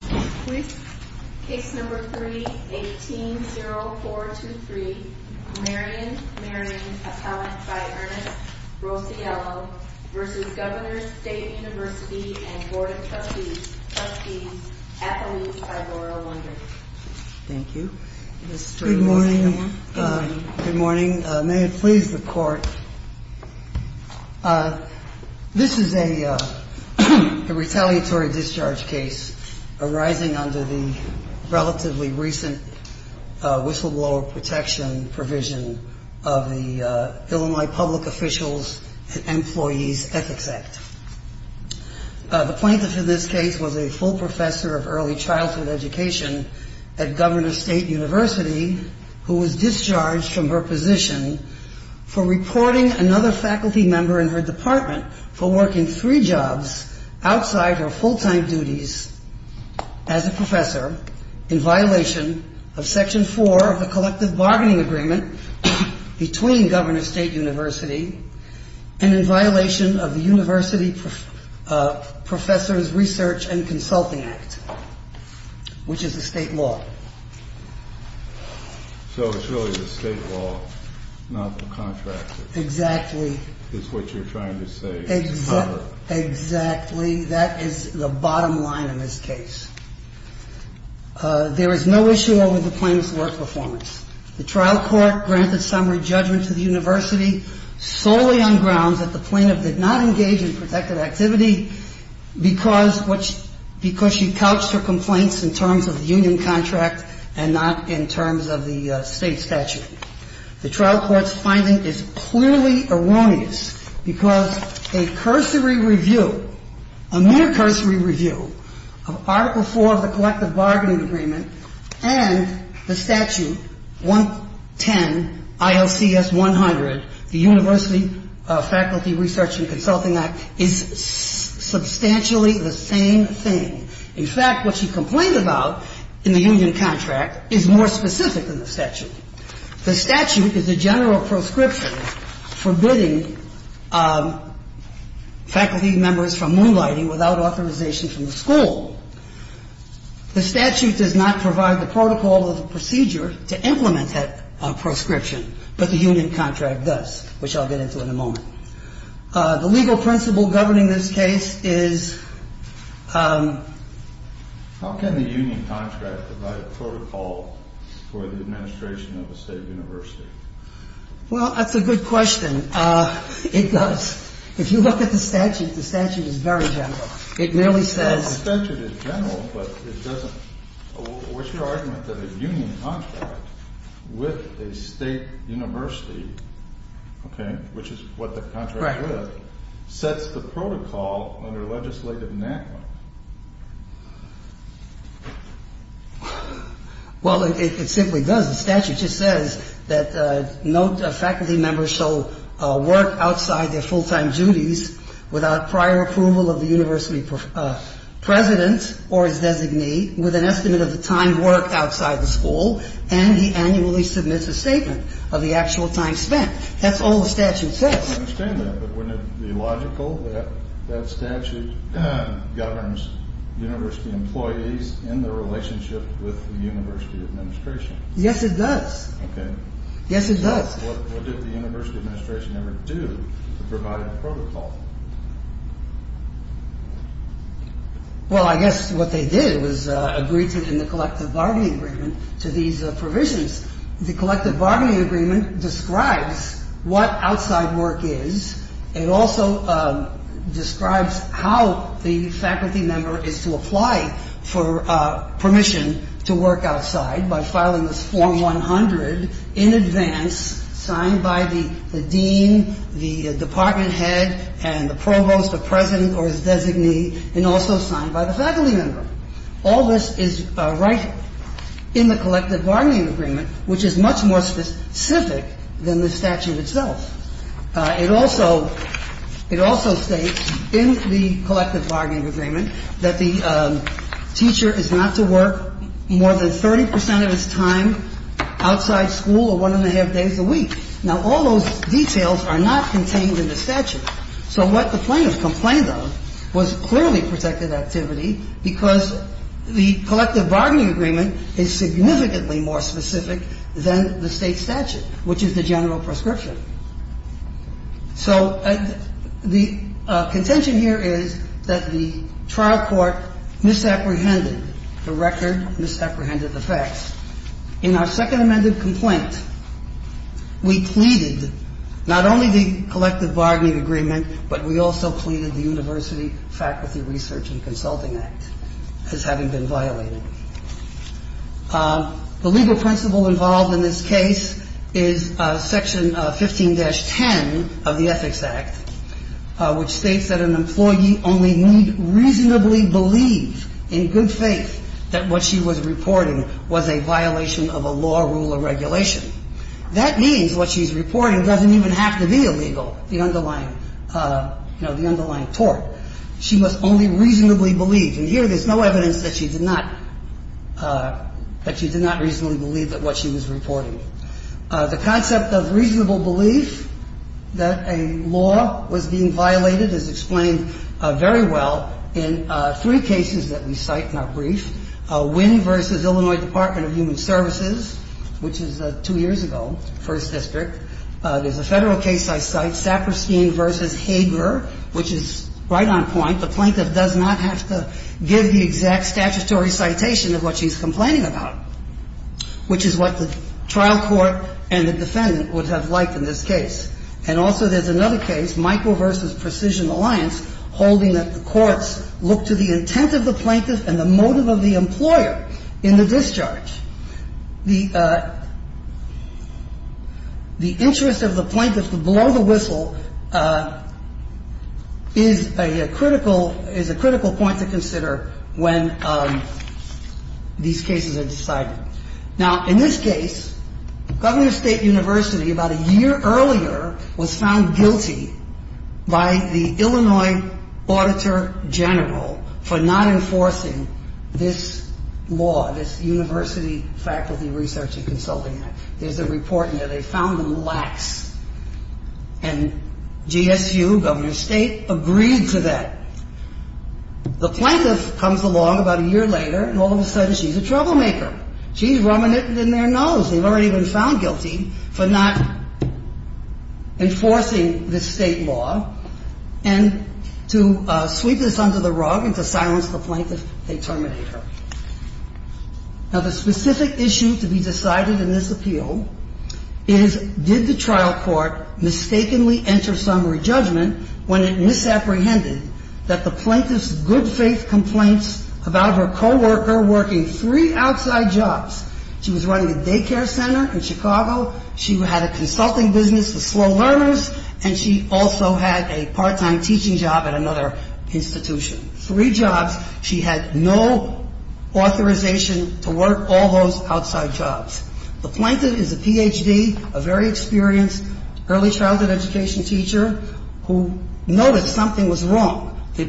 Case No. 3-18-0423, Marion Marion, appellant by Ernest Rosiello v. Governor's State University and Board of Trustees, trustees, athletes by Laurel Wonder. Thank you. Good morning. Good morning. May it please the court. This is a retaliatory discharge case arising under the relatively recent whistleblower protection provision of the Illinois Public Officials and Employees Ethics Act. The plaintiff in this case was a full professor of early childhood education at Governor's State University who was discharged from her position for reporting another faculty member in her department for working three jobs outside her full-time duties as a professor in violation of Section 4 of the Collective Bargaining Agreement between Governor's State University and in violation of the University Professors Research and Consulting Act, which is a state law. So it's really the state law, not the contract. Exactly. It's what you're trying to say. Exactly. That is the bottom line in this case. There is no issue over the plaintiff's work performance. The trial court granted summary judgment to the university solely on grounds that the plaintiff did not engage in protected activity because she couched her complaints in terms of union contract and not in terms of the state statute. The trial court's finding is clearly erroneous because a cursory review, a mere cursory review of Article 4 of the Collective Bargaining Agreement and the statute 110ILCS100, the University Faculty Research and Consulting Act, is substantially the same thing. In fact, what she complained about in the union contract is more specific than the statute. The statute is a general proscription forbidding faculty members from moonlighting without authorization from the school. The statute does not provide the protocol or the procedure to implement that proscription, but the union contract does, which I'll get into in a moment. The legal principle governing this case is... How can the union contract provide a protocol for the administration of a state university? Well, that's a good question. It does. If you look at the statute, the statute is very general. It merely says... The statute is general, but it doesn't... What's your argument that a union contract with a state university, okay, which is what the contract is, sets the protocol under legislative enactment? Well, it simply does. The statute just says that no faculty member shall work outside their full-time duties without prior approval of the university president or his designee with an estimate of the time worked outside the school, and he annually submits a statement of the actual time spent. That's all the statute says. I don't understand that, but wouldn't it be logical that that statute governs university employees in their relationship with the university administration? Yes, it does. Okay. Yes, it does. What did the university administration ever do to provide a protocol? Well, I guess what they did was agree to, in the collective bargaining agreement, to these provisions. The collective bargaining agreement describes what outside work is. It also describes how the faculty member is to apply for permission to work outside by filing this form 100 in advance, signed by the dean, the department head, and the president. And the provost, the president, or his designee, and also signed by the faculty member. All this is right in the collective bargaining agreement, which is much more specific than the statute itself. It also states in the collective bargaining agreement that the teacher is not to work more than 30 percent of his time outside school or one-and-a-half days a week. Now, all those details are not contained in the statute. So what the plaintiffs complained of was clearly protected activity because the collective bargaining agreement is significantly more specific than the State statute, which is the general prescription. So the contention here is that the trial court misapprehended the record, misapprehended the facts. In our second amended complaint, we pleaded not only the collective bargaining agreement, but we also pleaded the University Faculty Research and Consulting Act as having been violated. The legal principle involved in this case is Section 15-10 of the Ethics Act, which states that an employee only need reasonably believe in good faith that what she was reporting was a violation of a law, rule, or regulation. That means what she's reporting doesn't even have to be illegal, the underlying, you know, the underlying tort. She must only reasonably believe. And here, there's no evidence that she did not reasonably believe that what she was reporting. The concept of reasonable belief that a law was being violated is explained very well in three cases that we cite in our brief. Wynn v. Illinois Department of Human Services, which is two years ago, First District. There's a Federal case I cite, Saperstein v. Hager, which is right on point. The plaintiff does not have to give the exact statutory citation of what she's complaining about, which is what the trial court and the defendant would have liked in this case. And also there's another case, Michael v. Precision Alliance, holding that the courts look to the intent of the plaintiff and the motive of the employer in the discharge. The interest of the plaintiff to blow the whistle is a critical point to consider when these cases are decided. Now, in this case, Governor State University, about a year earlier, was found guilty by the Illinois Auditor General for not enforcing this law, this University Faculty Research and Consulting Act. There's a report in there they found them lax. And GSU, Governor State, agreed to that. The plaintiff comes along about a year later, and all of a sudden she's a troublemaker. She's rummaging in their nose. They've already been found guilty for not enforcing this state law. And to sweep this under the rug and to silence the plaintiff, they terminate her. Now, the specific issue to be decided in this appeal is did the trial court mistakenly enter summary judgment when it misapprehended that the plaintiff's good faith complaints about her co-worker working three outside jobs. She was running a daycare center in Chicago. She had a consulting business with slow learners. And she also had a part-time teaching job at another institution. Three jobs. She had no authorization to work all those outside jobs. The plaintiff is a PhD, a very experienced early childhood education teacher, who noticed something was wrong. When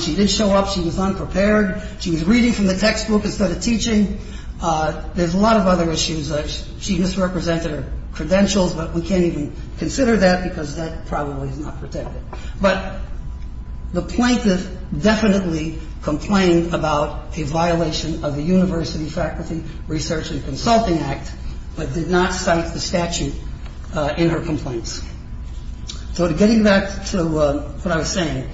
she did show up, she was unprepared. She was reading from the textbook instead of teaching. There's a lot of other issues. She misrepresented her credentials, but we can't even consider that because that probably is not protected. But the plaintiff definitely complained about a violation of the University Faculty Research and Consulting Act, but did not cite the statute in her complaints. So getting back to what I was saying,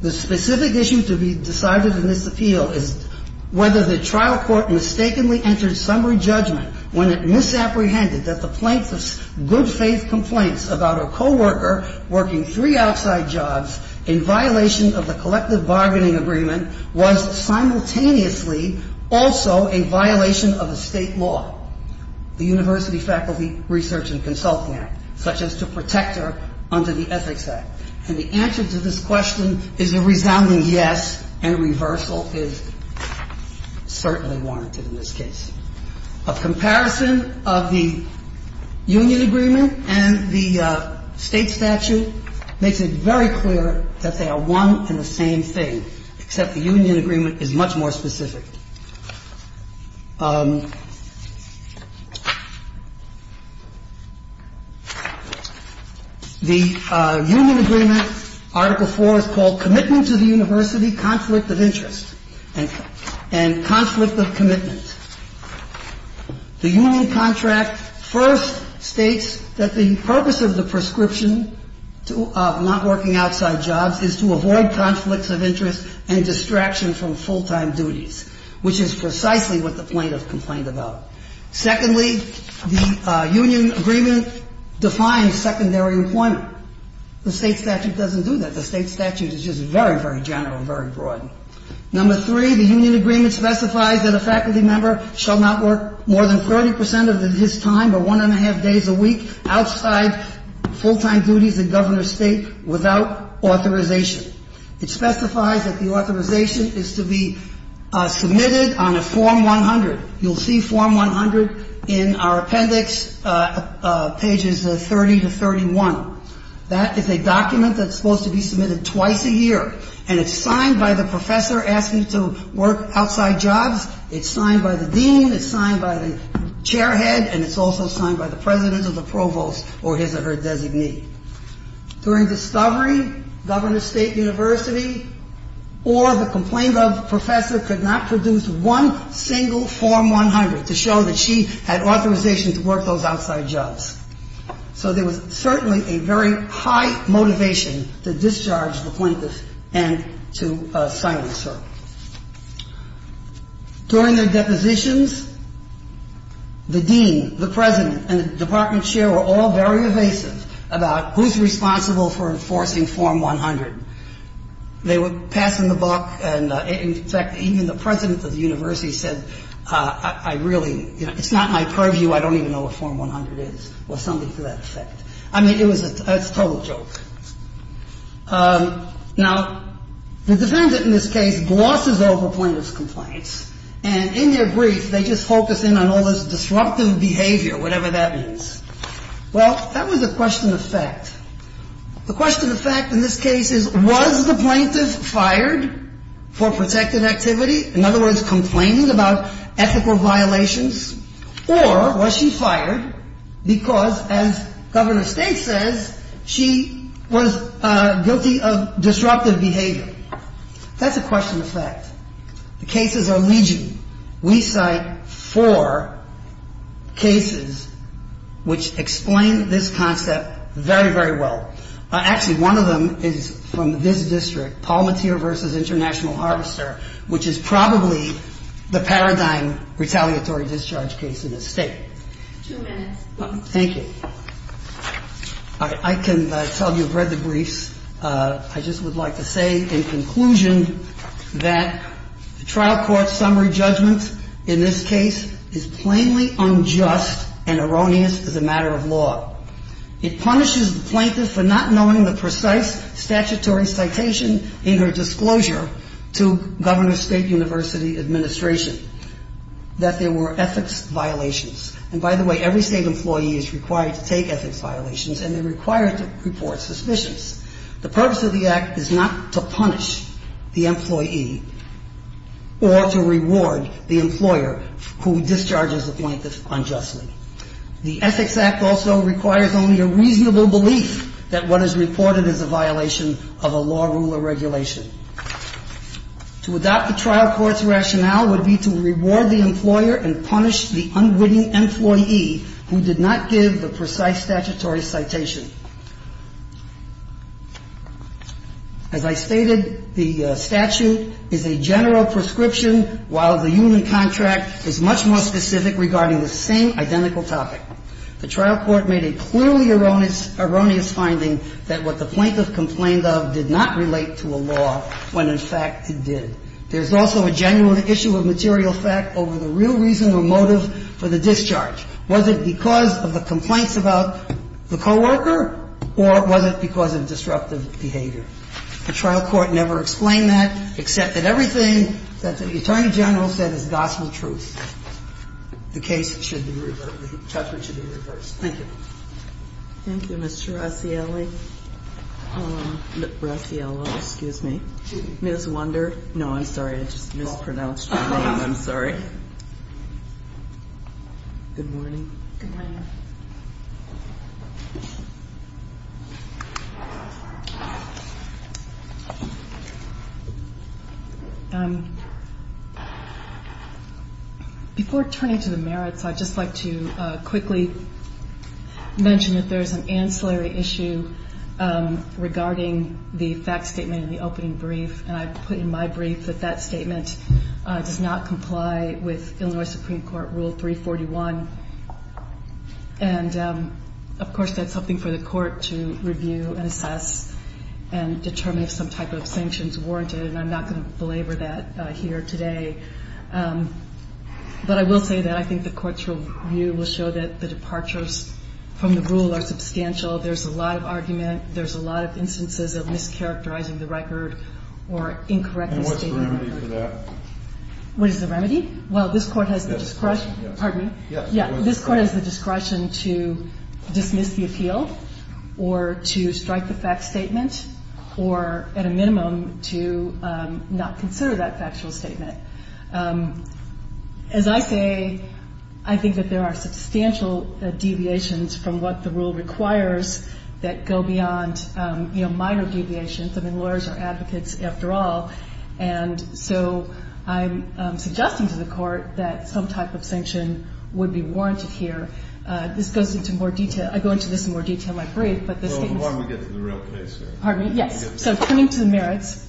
the specific issue to be decided in this appeal is whether the trial court mistakenly entered summary judgment when it misapprehended that the plaintiff's good faith complaints about her co-worker working three outside jobs in violation of the collective bargaining agreement was simultaneously also a violation of a state law. The University Faculty Research and Consulting Act, such as to protect her under the Ethics Act. And the answer to this question is a resounding yes, and a reversal is certainly warranted in this case. A comparison of the union agreement and the state statute makes it very clear that they are one and the same thing, except the union agreement is much more specific. The union agreement, Article 4, is called Commitment to the University Conflict of Interest and Conflict of Commitment. The union contract first states that the purpose of the prescription of not working outside jobs is to avoid conflicts of interest and distraction from full-time duties, which is precisely what the plaintiff complained about. Secondly, the union agreement defines secondary employment. The state statute doesn't do that. The state statute is just very, very general, very broad. Number three, the union agreement specifies that a faculty member shall not work more than 30 percent of his time or one and a half days a week outside full-time duties in Governor's State without authorization. It specifies that the authorization is to be submitted on a Form 100. You'll see Form 100 in our appendix, pages 30 to 31. That is a document that's supposed to be submitted twice a year. And it's signed by the professor asking to work outside jobs. It's signed by the dean. It's signed by the chair head. And it's also signed by the president or the provost or his or her designee. During discovery, Governor's State University or the complained of professor could not produce one single Form 100 to show that she had authorization to work those outside jobs. So there was certainly a very high motivation to discharge the plaintiff and to silence her. During their depositions, the dean, the president, and the department chair were all very evasive about who's responsible for enforcing Form 100. They were passing the buck, and in fact, even the president of the university said, I really — it's not my purview. I don't even know what Form 100 is, or something to that effect. I mean, it was a — it's a total joke. Now, the defendant in this case glosses over plaintiff's complaints, and in their brief, they just focus in on all this disruptive behavior, whatever that means. Well, that was a question of fact. The question of fact in this case is, was the plaintiff fired for protective activity? In other words, complaining about ethical violations? Or was she fired because, as Governor's State says, she was guilty of disruptive behavior? That's a question of fact. The cases are legion. We cite four cases which explain this concept very, very well. Actually, one of them is from this district, Palmatier v. International Harvester, which is probably the paradigm retaliatory discharge case in this state. Two minutes. Thank you. I can tell you I've read the briefs. I just would like to say, in conclusion, that the trial court's summary judgment in this case is plainly unjust and erroneous as a matter of law. It punishes the plaintiff for not knowing the precise statutory citation in her disclosure to Governor's State University administration that there were ethics violations. And, by the way, every state employee is required to take ethics violations, and they're required to report suspicions. The purpose of the Act is not to punish the employee or to reward the employer who discharges the plaintiff unjustly. The Ethics Act also requires only a reasonable belief that what is reported is a violation of a law, rule, or regulation. To adopt the trial court's rationale would be to reward the employer and punish the unwitting employee who did not give the precise statutory citation. As I stated, the statute is a general prescription, while the union contract is much more specific regarding the same identical topic. The trial court made a clearly erroneous finding that what the plaintiff complained of did not relate to a law when, in fact, it did. There's also a genuine issue of material fact over the real reason or motive for the discharge. Was it because of the complaints about the coworker, or was it because of disruptive behavior? The trial court never explained that, except that everything that the Attorney General said is gospel truth. The case should be reversed. The judgment should be reversed. Thank you. Thank you, Mr. Rossielli. Rossiello, excuse me. Ms. Wonder. No, I'm sorry. I just mispronounced your name. I'm sorry. Good morning. Good morning. Before turning to the merits, I'd just like to quickly mention that there's an ancillary issue regarding the fact statement in the opening brief, and I put in my brief that that statement does not comply with Illinois Supreme Court Rule 341. And, of course, that's something for the Court to review and assess and determine if some type of sanction is warranted, and I'm not going to belabor that here today. But I will say that I think the Court's review will show that the departures from the rule are substantial. There's a lot of argument. There's a lot of instances of mischaracterizing the record or incorrectness. And what's the remedy for that? What is the remedy? Well, this Court has the discretion. Pardon me? Yeah, this Court has the discretion to dismiss the appeal or to strike the fact statement or, at a minimum, to not consider that factual statement. As I say, I think that there are substantial deviations from what the rule requires that go beyond minor deviations. I mean, lawyers are advocates after all. And so I'm suggesting to the Court that some type of sanction would be warranted here. This goes into more detail. I go into this in more detail in my brief, but this statement is... Well, why don't we get to the real case here? Pardon me? Yes. So turning to the merits,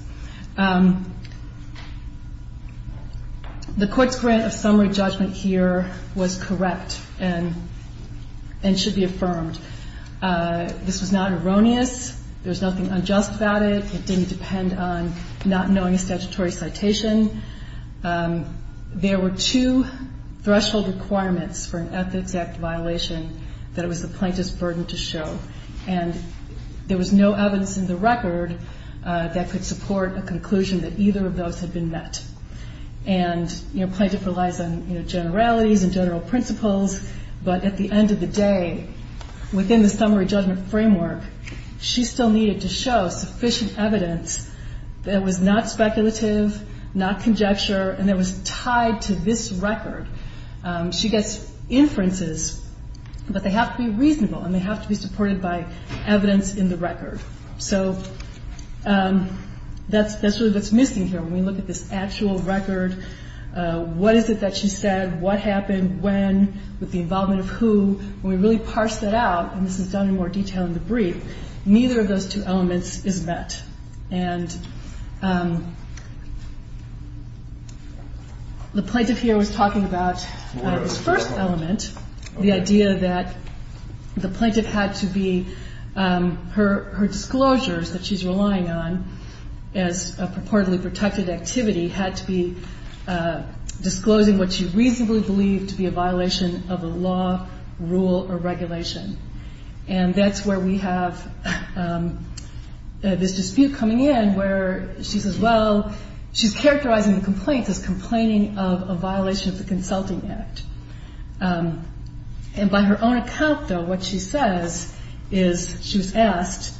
the Court's grant of summary judgment here was correct and should be affirmed. This was not erroneous. There was nothing unjust about it. It didn't depend on not knowing a statutory citation. There were two threshold requirements for an Ethics Act violation that it was the plaintiff's burden to show. And there was no evidence in the record that could support a conclusion that either of those had been met. And, you know, plaintiff relies on, you know, generalities and general principles. But at the end of the day, within the summary judgment framework, she still needed to show sufficient evidence that was not speculative, not conjecture, and that was tied to this record. She gets inferences, but they have to be reasonable and they have to be supported by evidence in the record. So that's really what's missing here when we look at this actual record. What is it that she said? What happened? When? With the involvement of who? When we really parse that out, and this is done in more detail in the brief, neither of those two elements is met. And the plaintiff here was talking about this first element, the idea that the plaintiff had to be her disclosures that she's relying on as a purportedly protected activity had to be disclosing what she reasonably believed to be a violation of the law, rule, or regulation. And that's where we have this dispute coming in where she says, well, she's characterizing the complaints as complaining of a violation of the Consulting Act. And by her own account, though, what she says is she was asked,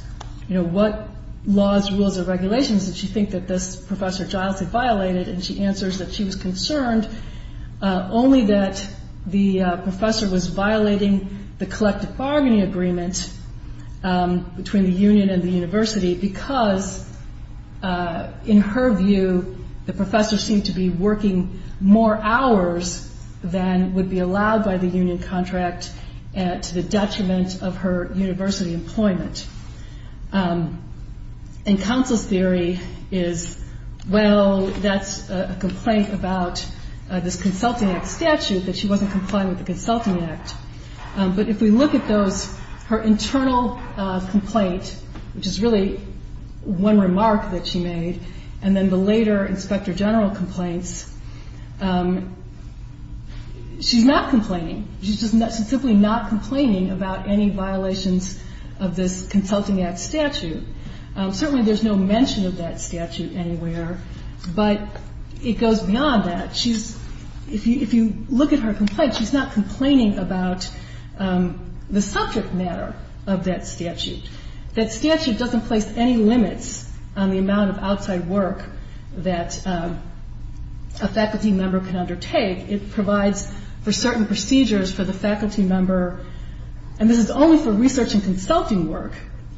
you know, what laws, rules, or regulations did she think that this Professor Giles had violated? And she answers that she was concerned only that the professor was violating the collective bargaining agreement between the union and the university because, in her view, the professor seemed to be working more hours than would be allowed by the union contract to the detriment of her university employment. And counsel's theory is, well, that's a complaint about this Consulting Act statute that she wasn't complying with the Consulting Act. But if we look at those, her internal complaint, which is really one remark that she made, and then the later Inspector General complaints, she's not complaining. She's just simply not complaining about any violations of this Consulting Act statute. Certainly there's no mention of that statute anywhere, but it goes beyond that. If you look at her complaint, she's not complaining about the subject matter of that statute. That statute doesn't place any limits on the amount of outside work that a faculty member can undertake. It provides for certain procedures for the faculty member, and this is only for research and consulting work,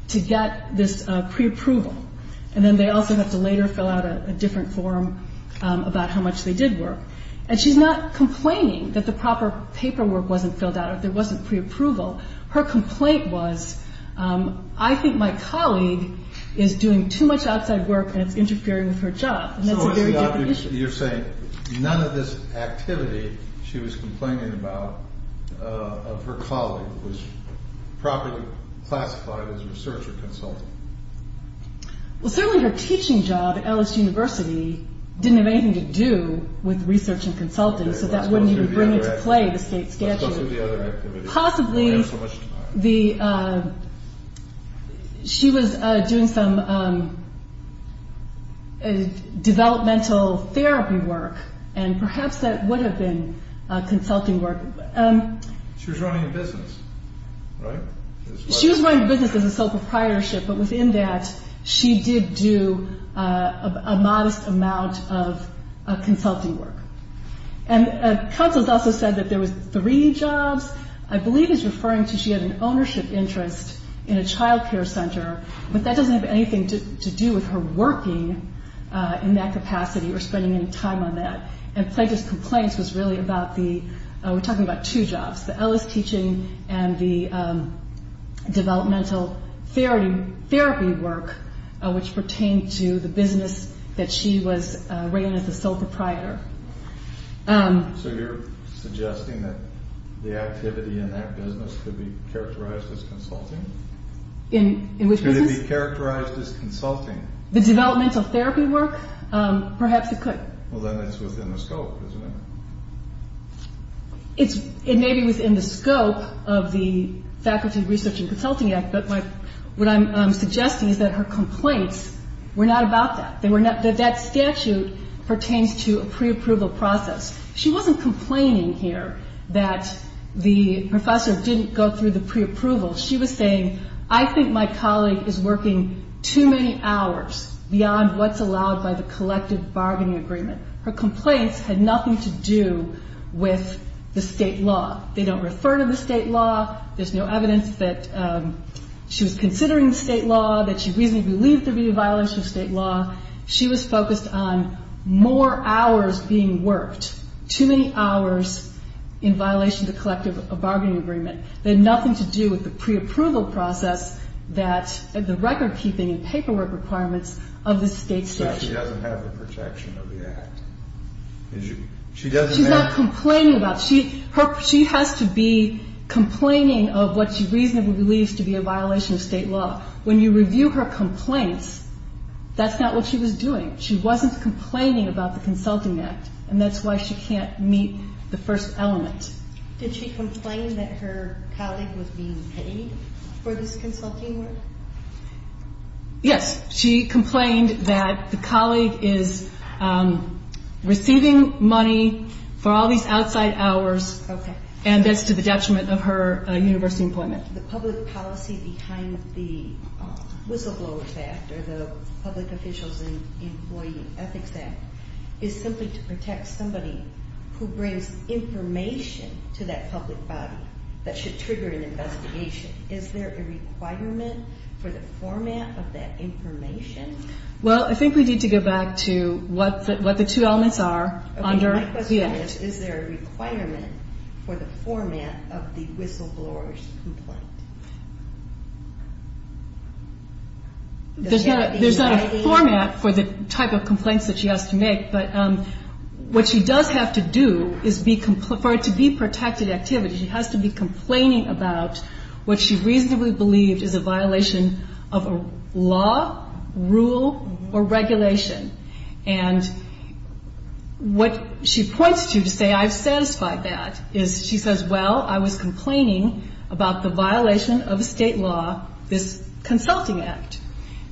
to get this preapproval. And then they also have to later fill out a different form about how much they did work. And she's not complaining that the proper paperwork wasn't filled out or there wasn't preapproval. Her complaint was, I think my colleague is doing too much outside work and it's interfering with her job, and that's a very different issue. So you're saying none of this activity she was complaining about of her colleague was properly classified as research or consulting? Well, certainly her teaching job at Ellis University didn't have anything to do with research and consulting, so that wouldn't even bring into play the state statute. Possibly she was doing some developmental therapy work, and perhaps that would have been consulting work. She was running a business, right? She was running a business as a sole proprietorship, but within that she did do a modest amount of consulting work. And counsels also said that there was three jobs. I believe he's referring to she had an ownership interest in a child care center, but that doesn't have anything to do with her working in that capacity or spending any time on that. And Plankett's complaints was really about the, we're talking about two jobs, the Ellis teaching and the developmental therapy work, which pertained to the business that she was running as a sole proprietor. So you're suggesting that the activity in that business could be characterized as consulting? In which business? Could it be characterized as consulting? The developmental therapy work? Perhaps it could. Well, then it's within the scope, isn't it? It may be within the scope of the Faculty Research and Consulting Act, but what I'm suggesting is that her complaints were not about that. That statute pertains to a preapproval process. She wasn't complaining here that the professor didn't go through the preapproval. She was saying, I think my colleague is working too many hours beyond what's allowed by the collective bargaining agreement. Her complaints had nothing to do with the state law. They don't refer to the state law. There's no evidence that she was considering state law, that she reasonably believed there'd be a violation of state law. She was focused on more hours being worked, too many hours in violation of the collective bargaining agreement. They had nothing to do with the preapproval process that the recordkeeping and paperwork requirements of the state statute. So she doesn't have the protection of the Act? She doesn't have the protection. She has to be complaining of what she reasonably believes to be a violation of state law. When you review her complaints, that's not what she was doing. She wasn't complaining about the Consulting Act, and that's why she can't meet the first element. Did she complain that her colleague was being paid for this consulting work? Yes. She complained that the colleague is receiving money for all these outside hours, and that's to the detriment of her university employment. The public policy behind the Whistleblower's Act, or the Public Officials and Employee Ethics Act, is simply to protect somebody who brings information to that public body that should trigger an investigation. Is there a requirement for the format of that information? Well, I think we need to go back to what the two elements are. My question is, is there a requirement for the format of the whistleblower's complaint? There's not a format for the type of complaints that she has to make, but what she does have to do is, for it to be protected activity, she has to be complaining about what she reasonably believed is a violation of a law, rule, or regulation. And what she points to to say, I've satisfied that, is she says, well, I was complaining about the violation of state law, this Consulting Act.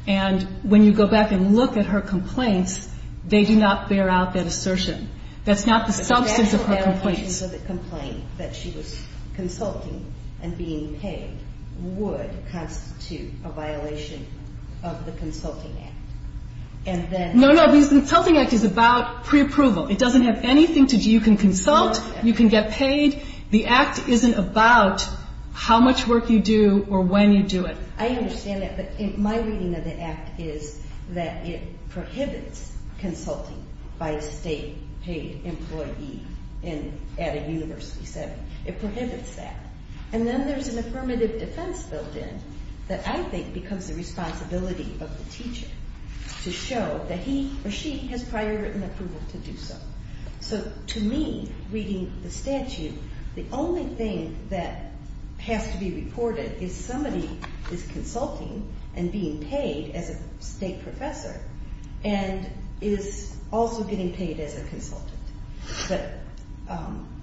And when you go back and look at her complaints, they do not bear out that assertion. That's not the substance of her complaints. The substance of the complaint that she was consulting and being paid would constitute a violation of the Consulting Act. No, no, because the Consulting Act is about preapproval. It doesn't have anything to do, you can consult, you can get paid. The Act isn't about how much work you do or when you do it. I understand that, but my reading of the Act is that it prohibits consulting by a state-paid employee at a university setting. It prohibits that. And then there's an affirmative defense built in that I think becomes the responsibility of the teacher to show that he or she has prior written approval to do so. So to me, reading the statute, the only thing that has to be reported is somebody is consulting and being paid as a state professor and is also getting paid as a consultant. But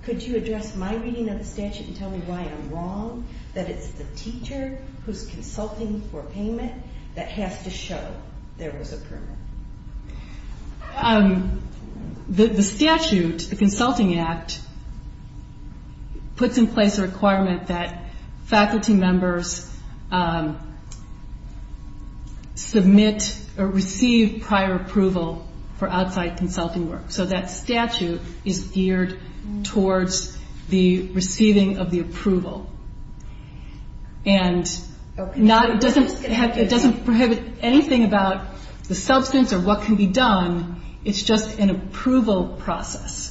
could you address my reading of the statute and tell me why I'm wrong that it's the teacher who's consulting for payment that has to show there was a permit? The statute, the Consulting Act, puts in place a requirement that faculty members submit or receive prior approval for outside consulting work. So that statute is geared towards the receiving of the approval. And it doesn't prohibit anything about the substance or what can be done. It's just an approval process.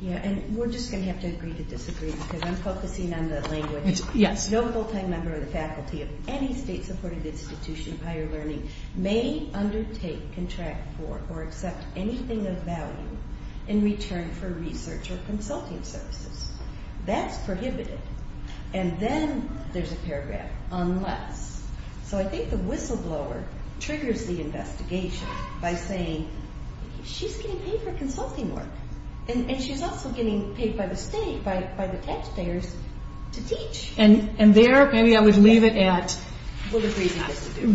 Yeah, and we're just going to have to agree to disagree because I'm focusing on the language. No full-time member of the faculty of any state-supported institution of higher learning may undertake, contract for, or accept anything of value in return for research or consulting services. That's prohibited. And then there's a paragraph, unless. So I think the whistleblower triggers the investigation by saying she's getting paid for consulting work. And she's also getting paid by the state, by the taxpayers, to teach. And there, maybe I would leave it at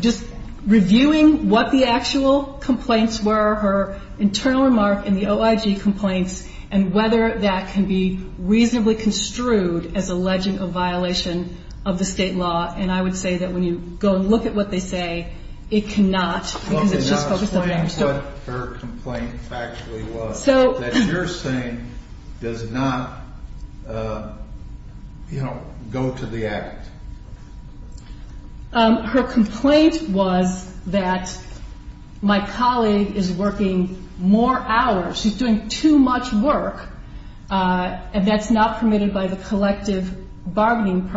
just reviewing what the actual complaints were, her internal remark in the OIG complaints, and whether that can be reasonably construed as alleging a violation of the state law. And I would say that when you go and look at what they say, it cannot. Probably not explain what her complaint actually was. That you're saying does not, you know, go to the act. Her complaint was that my colleague is working more hours. She's doing too much work, and that's not permitted by the collective bargaining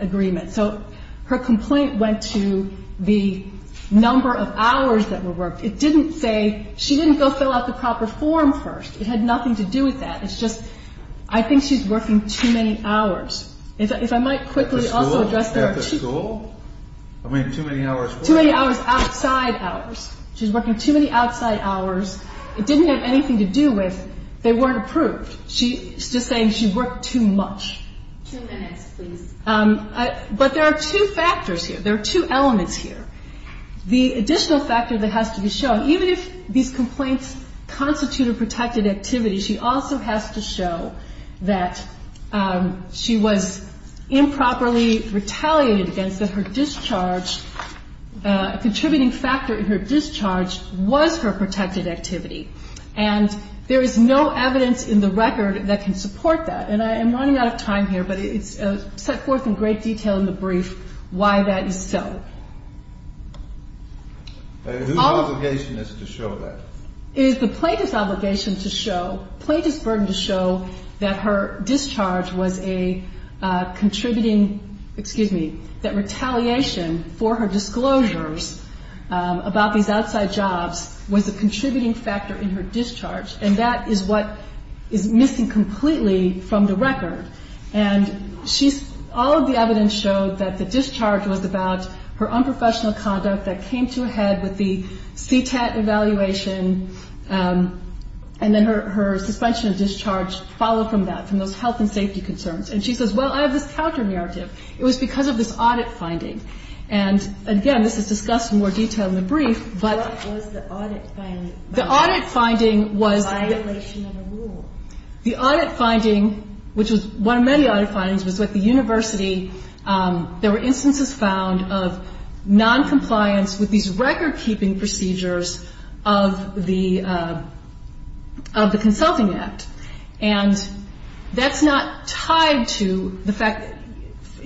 agreement. So her complaint went to the number of hours that were worked. It didn't say, she didn't go fill out the proper form first. It had nothing to do with that. It's just, I think she's working too many hours. If I might quickly also address that. At the school? Too many hours outside hours. She's working too many outside hours. It didn't have anything to do with, they weren't approved. She's just saying she worked too much. Two minutes, please. But there are two factors here. There are two elements here. The additional factor that has to be shown, even if these complaints constitute a protected activity, she also has to show that she was improperly retaliated against, that her discharge, a contributing factor in her discharge was her protected activity. And there is no evidence in the record that can support that. And I am running out of time here, but it's set forth in great detail in the brief why that is so. Whose obligation is it to show that? It is the plaintiff's obligation to show, plaintiff's burden to show that her discharge was a contributing, excuse me, that retaliation for her disclosures about these outside jobs was a contributing factor in her discharge, and that is what is missing completely from the record. And all of the evidence showed that the discharge was about her unprofessional conduct that came to a head with the CTAT evaluation, and then her suspension of discharge followed from that, from those health and safety concerns. And she says, well, I have this counter-narrative. It was because of this audit finding. And again, this is discussed in more detail in the brief. What was the audit finding? The audit finding was the audit finding, which was one of many audit findings, was that the university, there were instances found of noncompliance with these record-keeping procedures of the Consulting Act. And that's not tied to the fact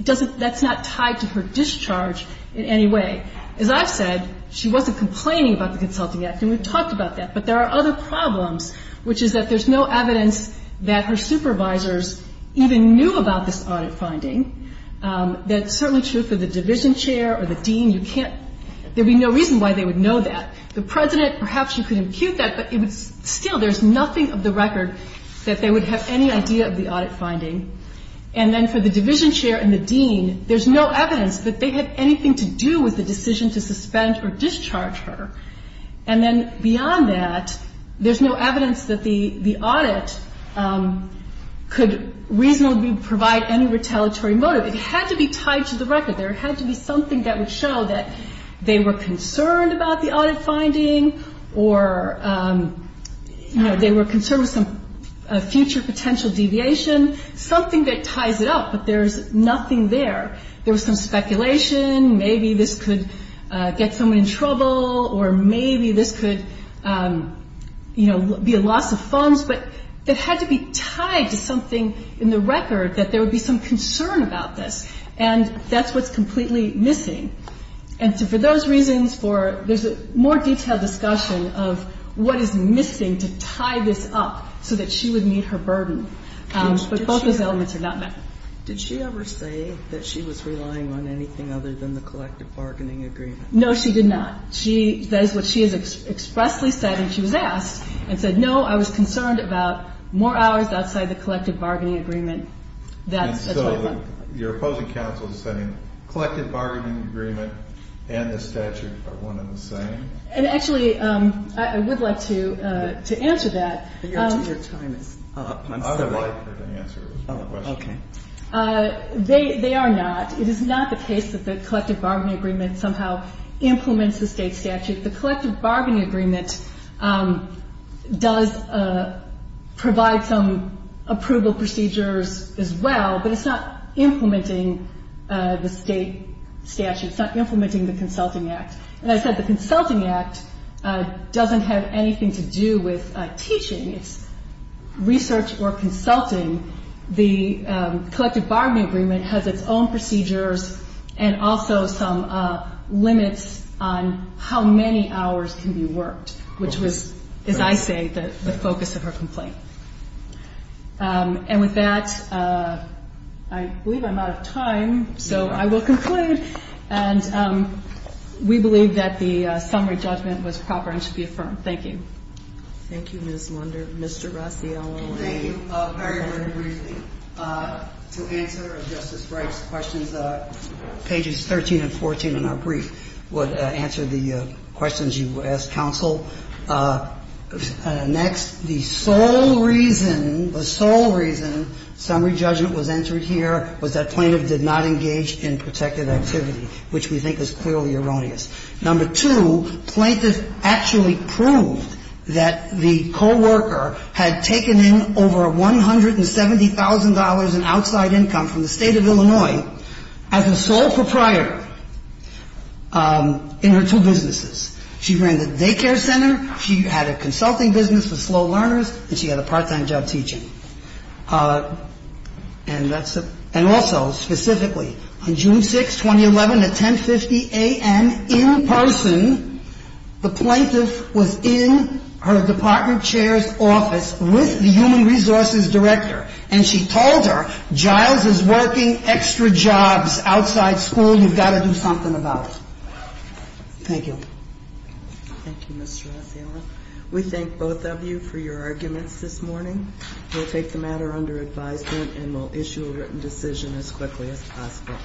that that's not tied to her discharge in any way. As I've said, she wasn't complaining about the Consulting Act, and we've talked about that, but there are other problems, which is that there's no evidence that her supervisors even knew about this audit finding. That's certainly true for the division chair or the dean. There would be no reason why they would know that. The president, perhaps you could impute that, but still there's nothing of the record that they would have any idea of the audit finding. And then for the division chair and the dean, there's no evidence that they had anything to do with the decision to suspend or discharge her. And then beyond that, there's no evidence that the audit could reasonably provide any retaliatory motive. It had to be tied to the record. There had to be something that would show that they were concerned about the audit finding or, you know, they were concerned with some future potential deviation, something that ties it up, but there's nothing there. There was some speculation, maybe this could get someone in trouble, or maybe this could, you know, be a loss of funds, but it had to be tied to something in the record that there would be some concern about this, and that's what's completely missing. And so for those reasons, there's a more detailed discussion of what is missing to tie this up so that she would meet her burden, but both those elements are not met. Did she ever say that she was relying on anything other than the collective bargaining agreement? No, she did not. That is what she has expressly said, and she was asked and said, no, I was concerned about more hours outside the collective bargaining agreement. And so your opposing counsel is saying collective bargaining agreement and the statute are one and the same? And actually, I would like to answer that. Your time is up. Okay. They are not. It is not the case that the collective bargaining agreement somehow implements the state statute. The collective bargaining agreement does provide some approval procedures as well, but it's not implementing the state statute. It's not implementing the Consulting Act. And I said the Consulting Act doesn't have anything to do with teaching. It's research or consulting. The collective bargaining agreement has its own procedures and also some limits on how many hours can be worked, which was, as I say, the focus of her complaint. And with that, I believe I'm out of time, so I will conclude. And we believe that the summary judgment was proper and should be affirmed. Thank you. Thank you, Ms. Lunder. Mr. Rossi, I'll let you go. Thank you. Very briefly, to answer Justice Breyer's questions, pages 13 and 14 in our brief would answer the questions you asked, counsel. Next, the sole reason, the sole reason summary judgment was entered here was that plaintiff did not engage in protective activity, which we think is clearly erroneous. Number two, plaintiff actually proved that the coworker had taken in over $170,000 in outside income from the State of Illinois as a sole proprietor in her two businesses. She ran the daycare center. She had a consulting business with slow learners, and she had a part-time job teaching. And also, specifically, on June 6, 2011, at 10.50 a.m., in person, the plaintiff was in her department chair's office with the human resources director, and she told her, Giles is working extra jobs outside school. You've got to do something about it. Thank you. Thank you, Mr. Rossi. We thank both of you for your arguments this morning. We'll take the matter under advisement, and we'll issue a written decision as quickly as possible.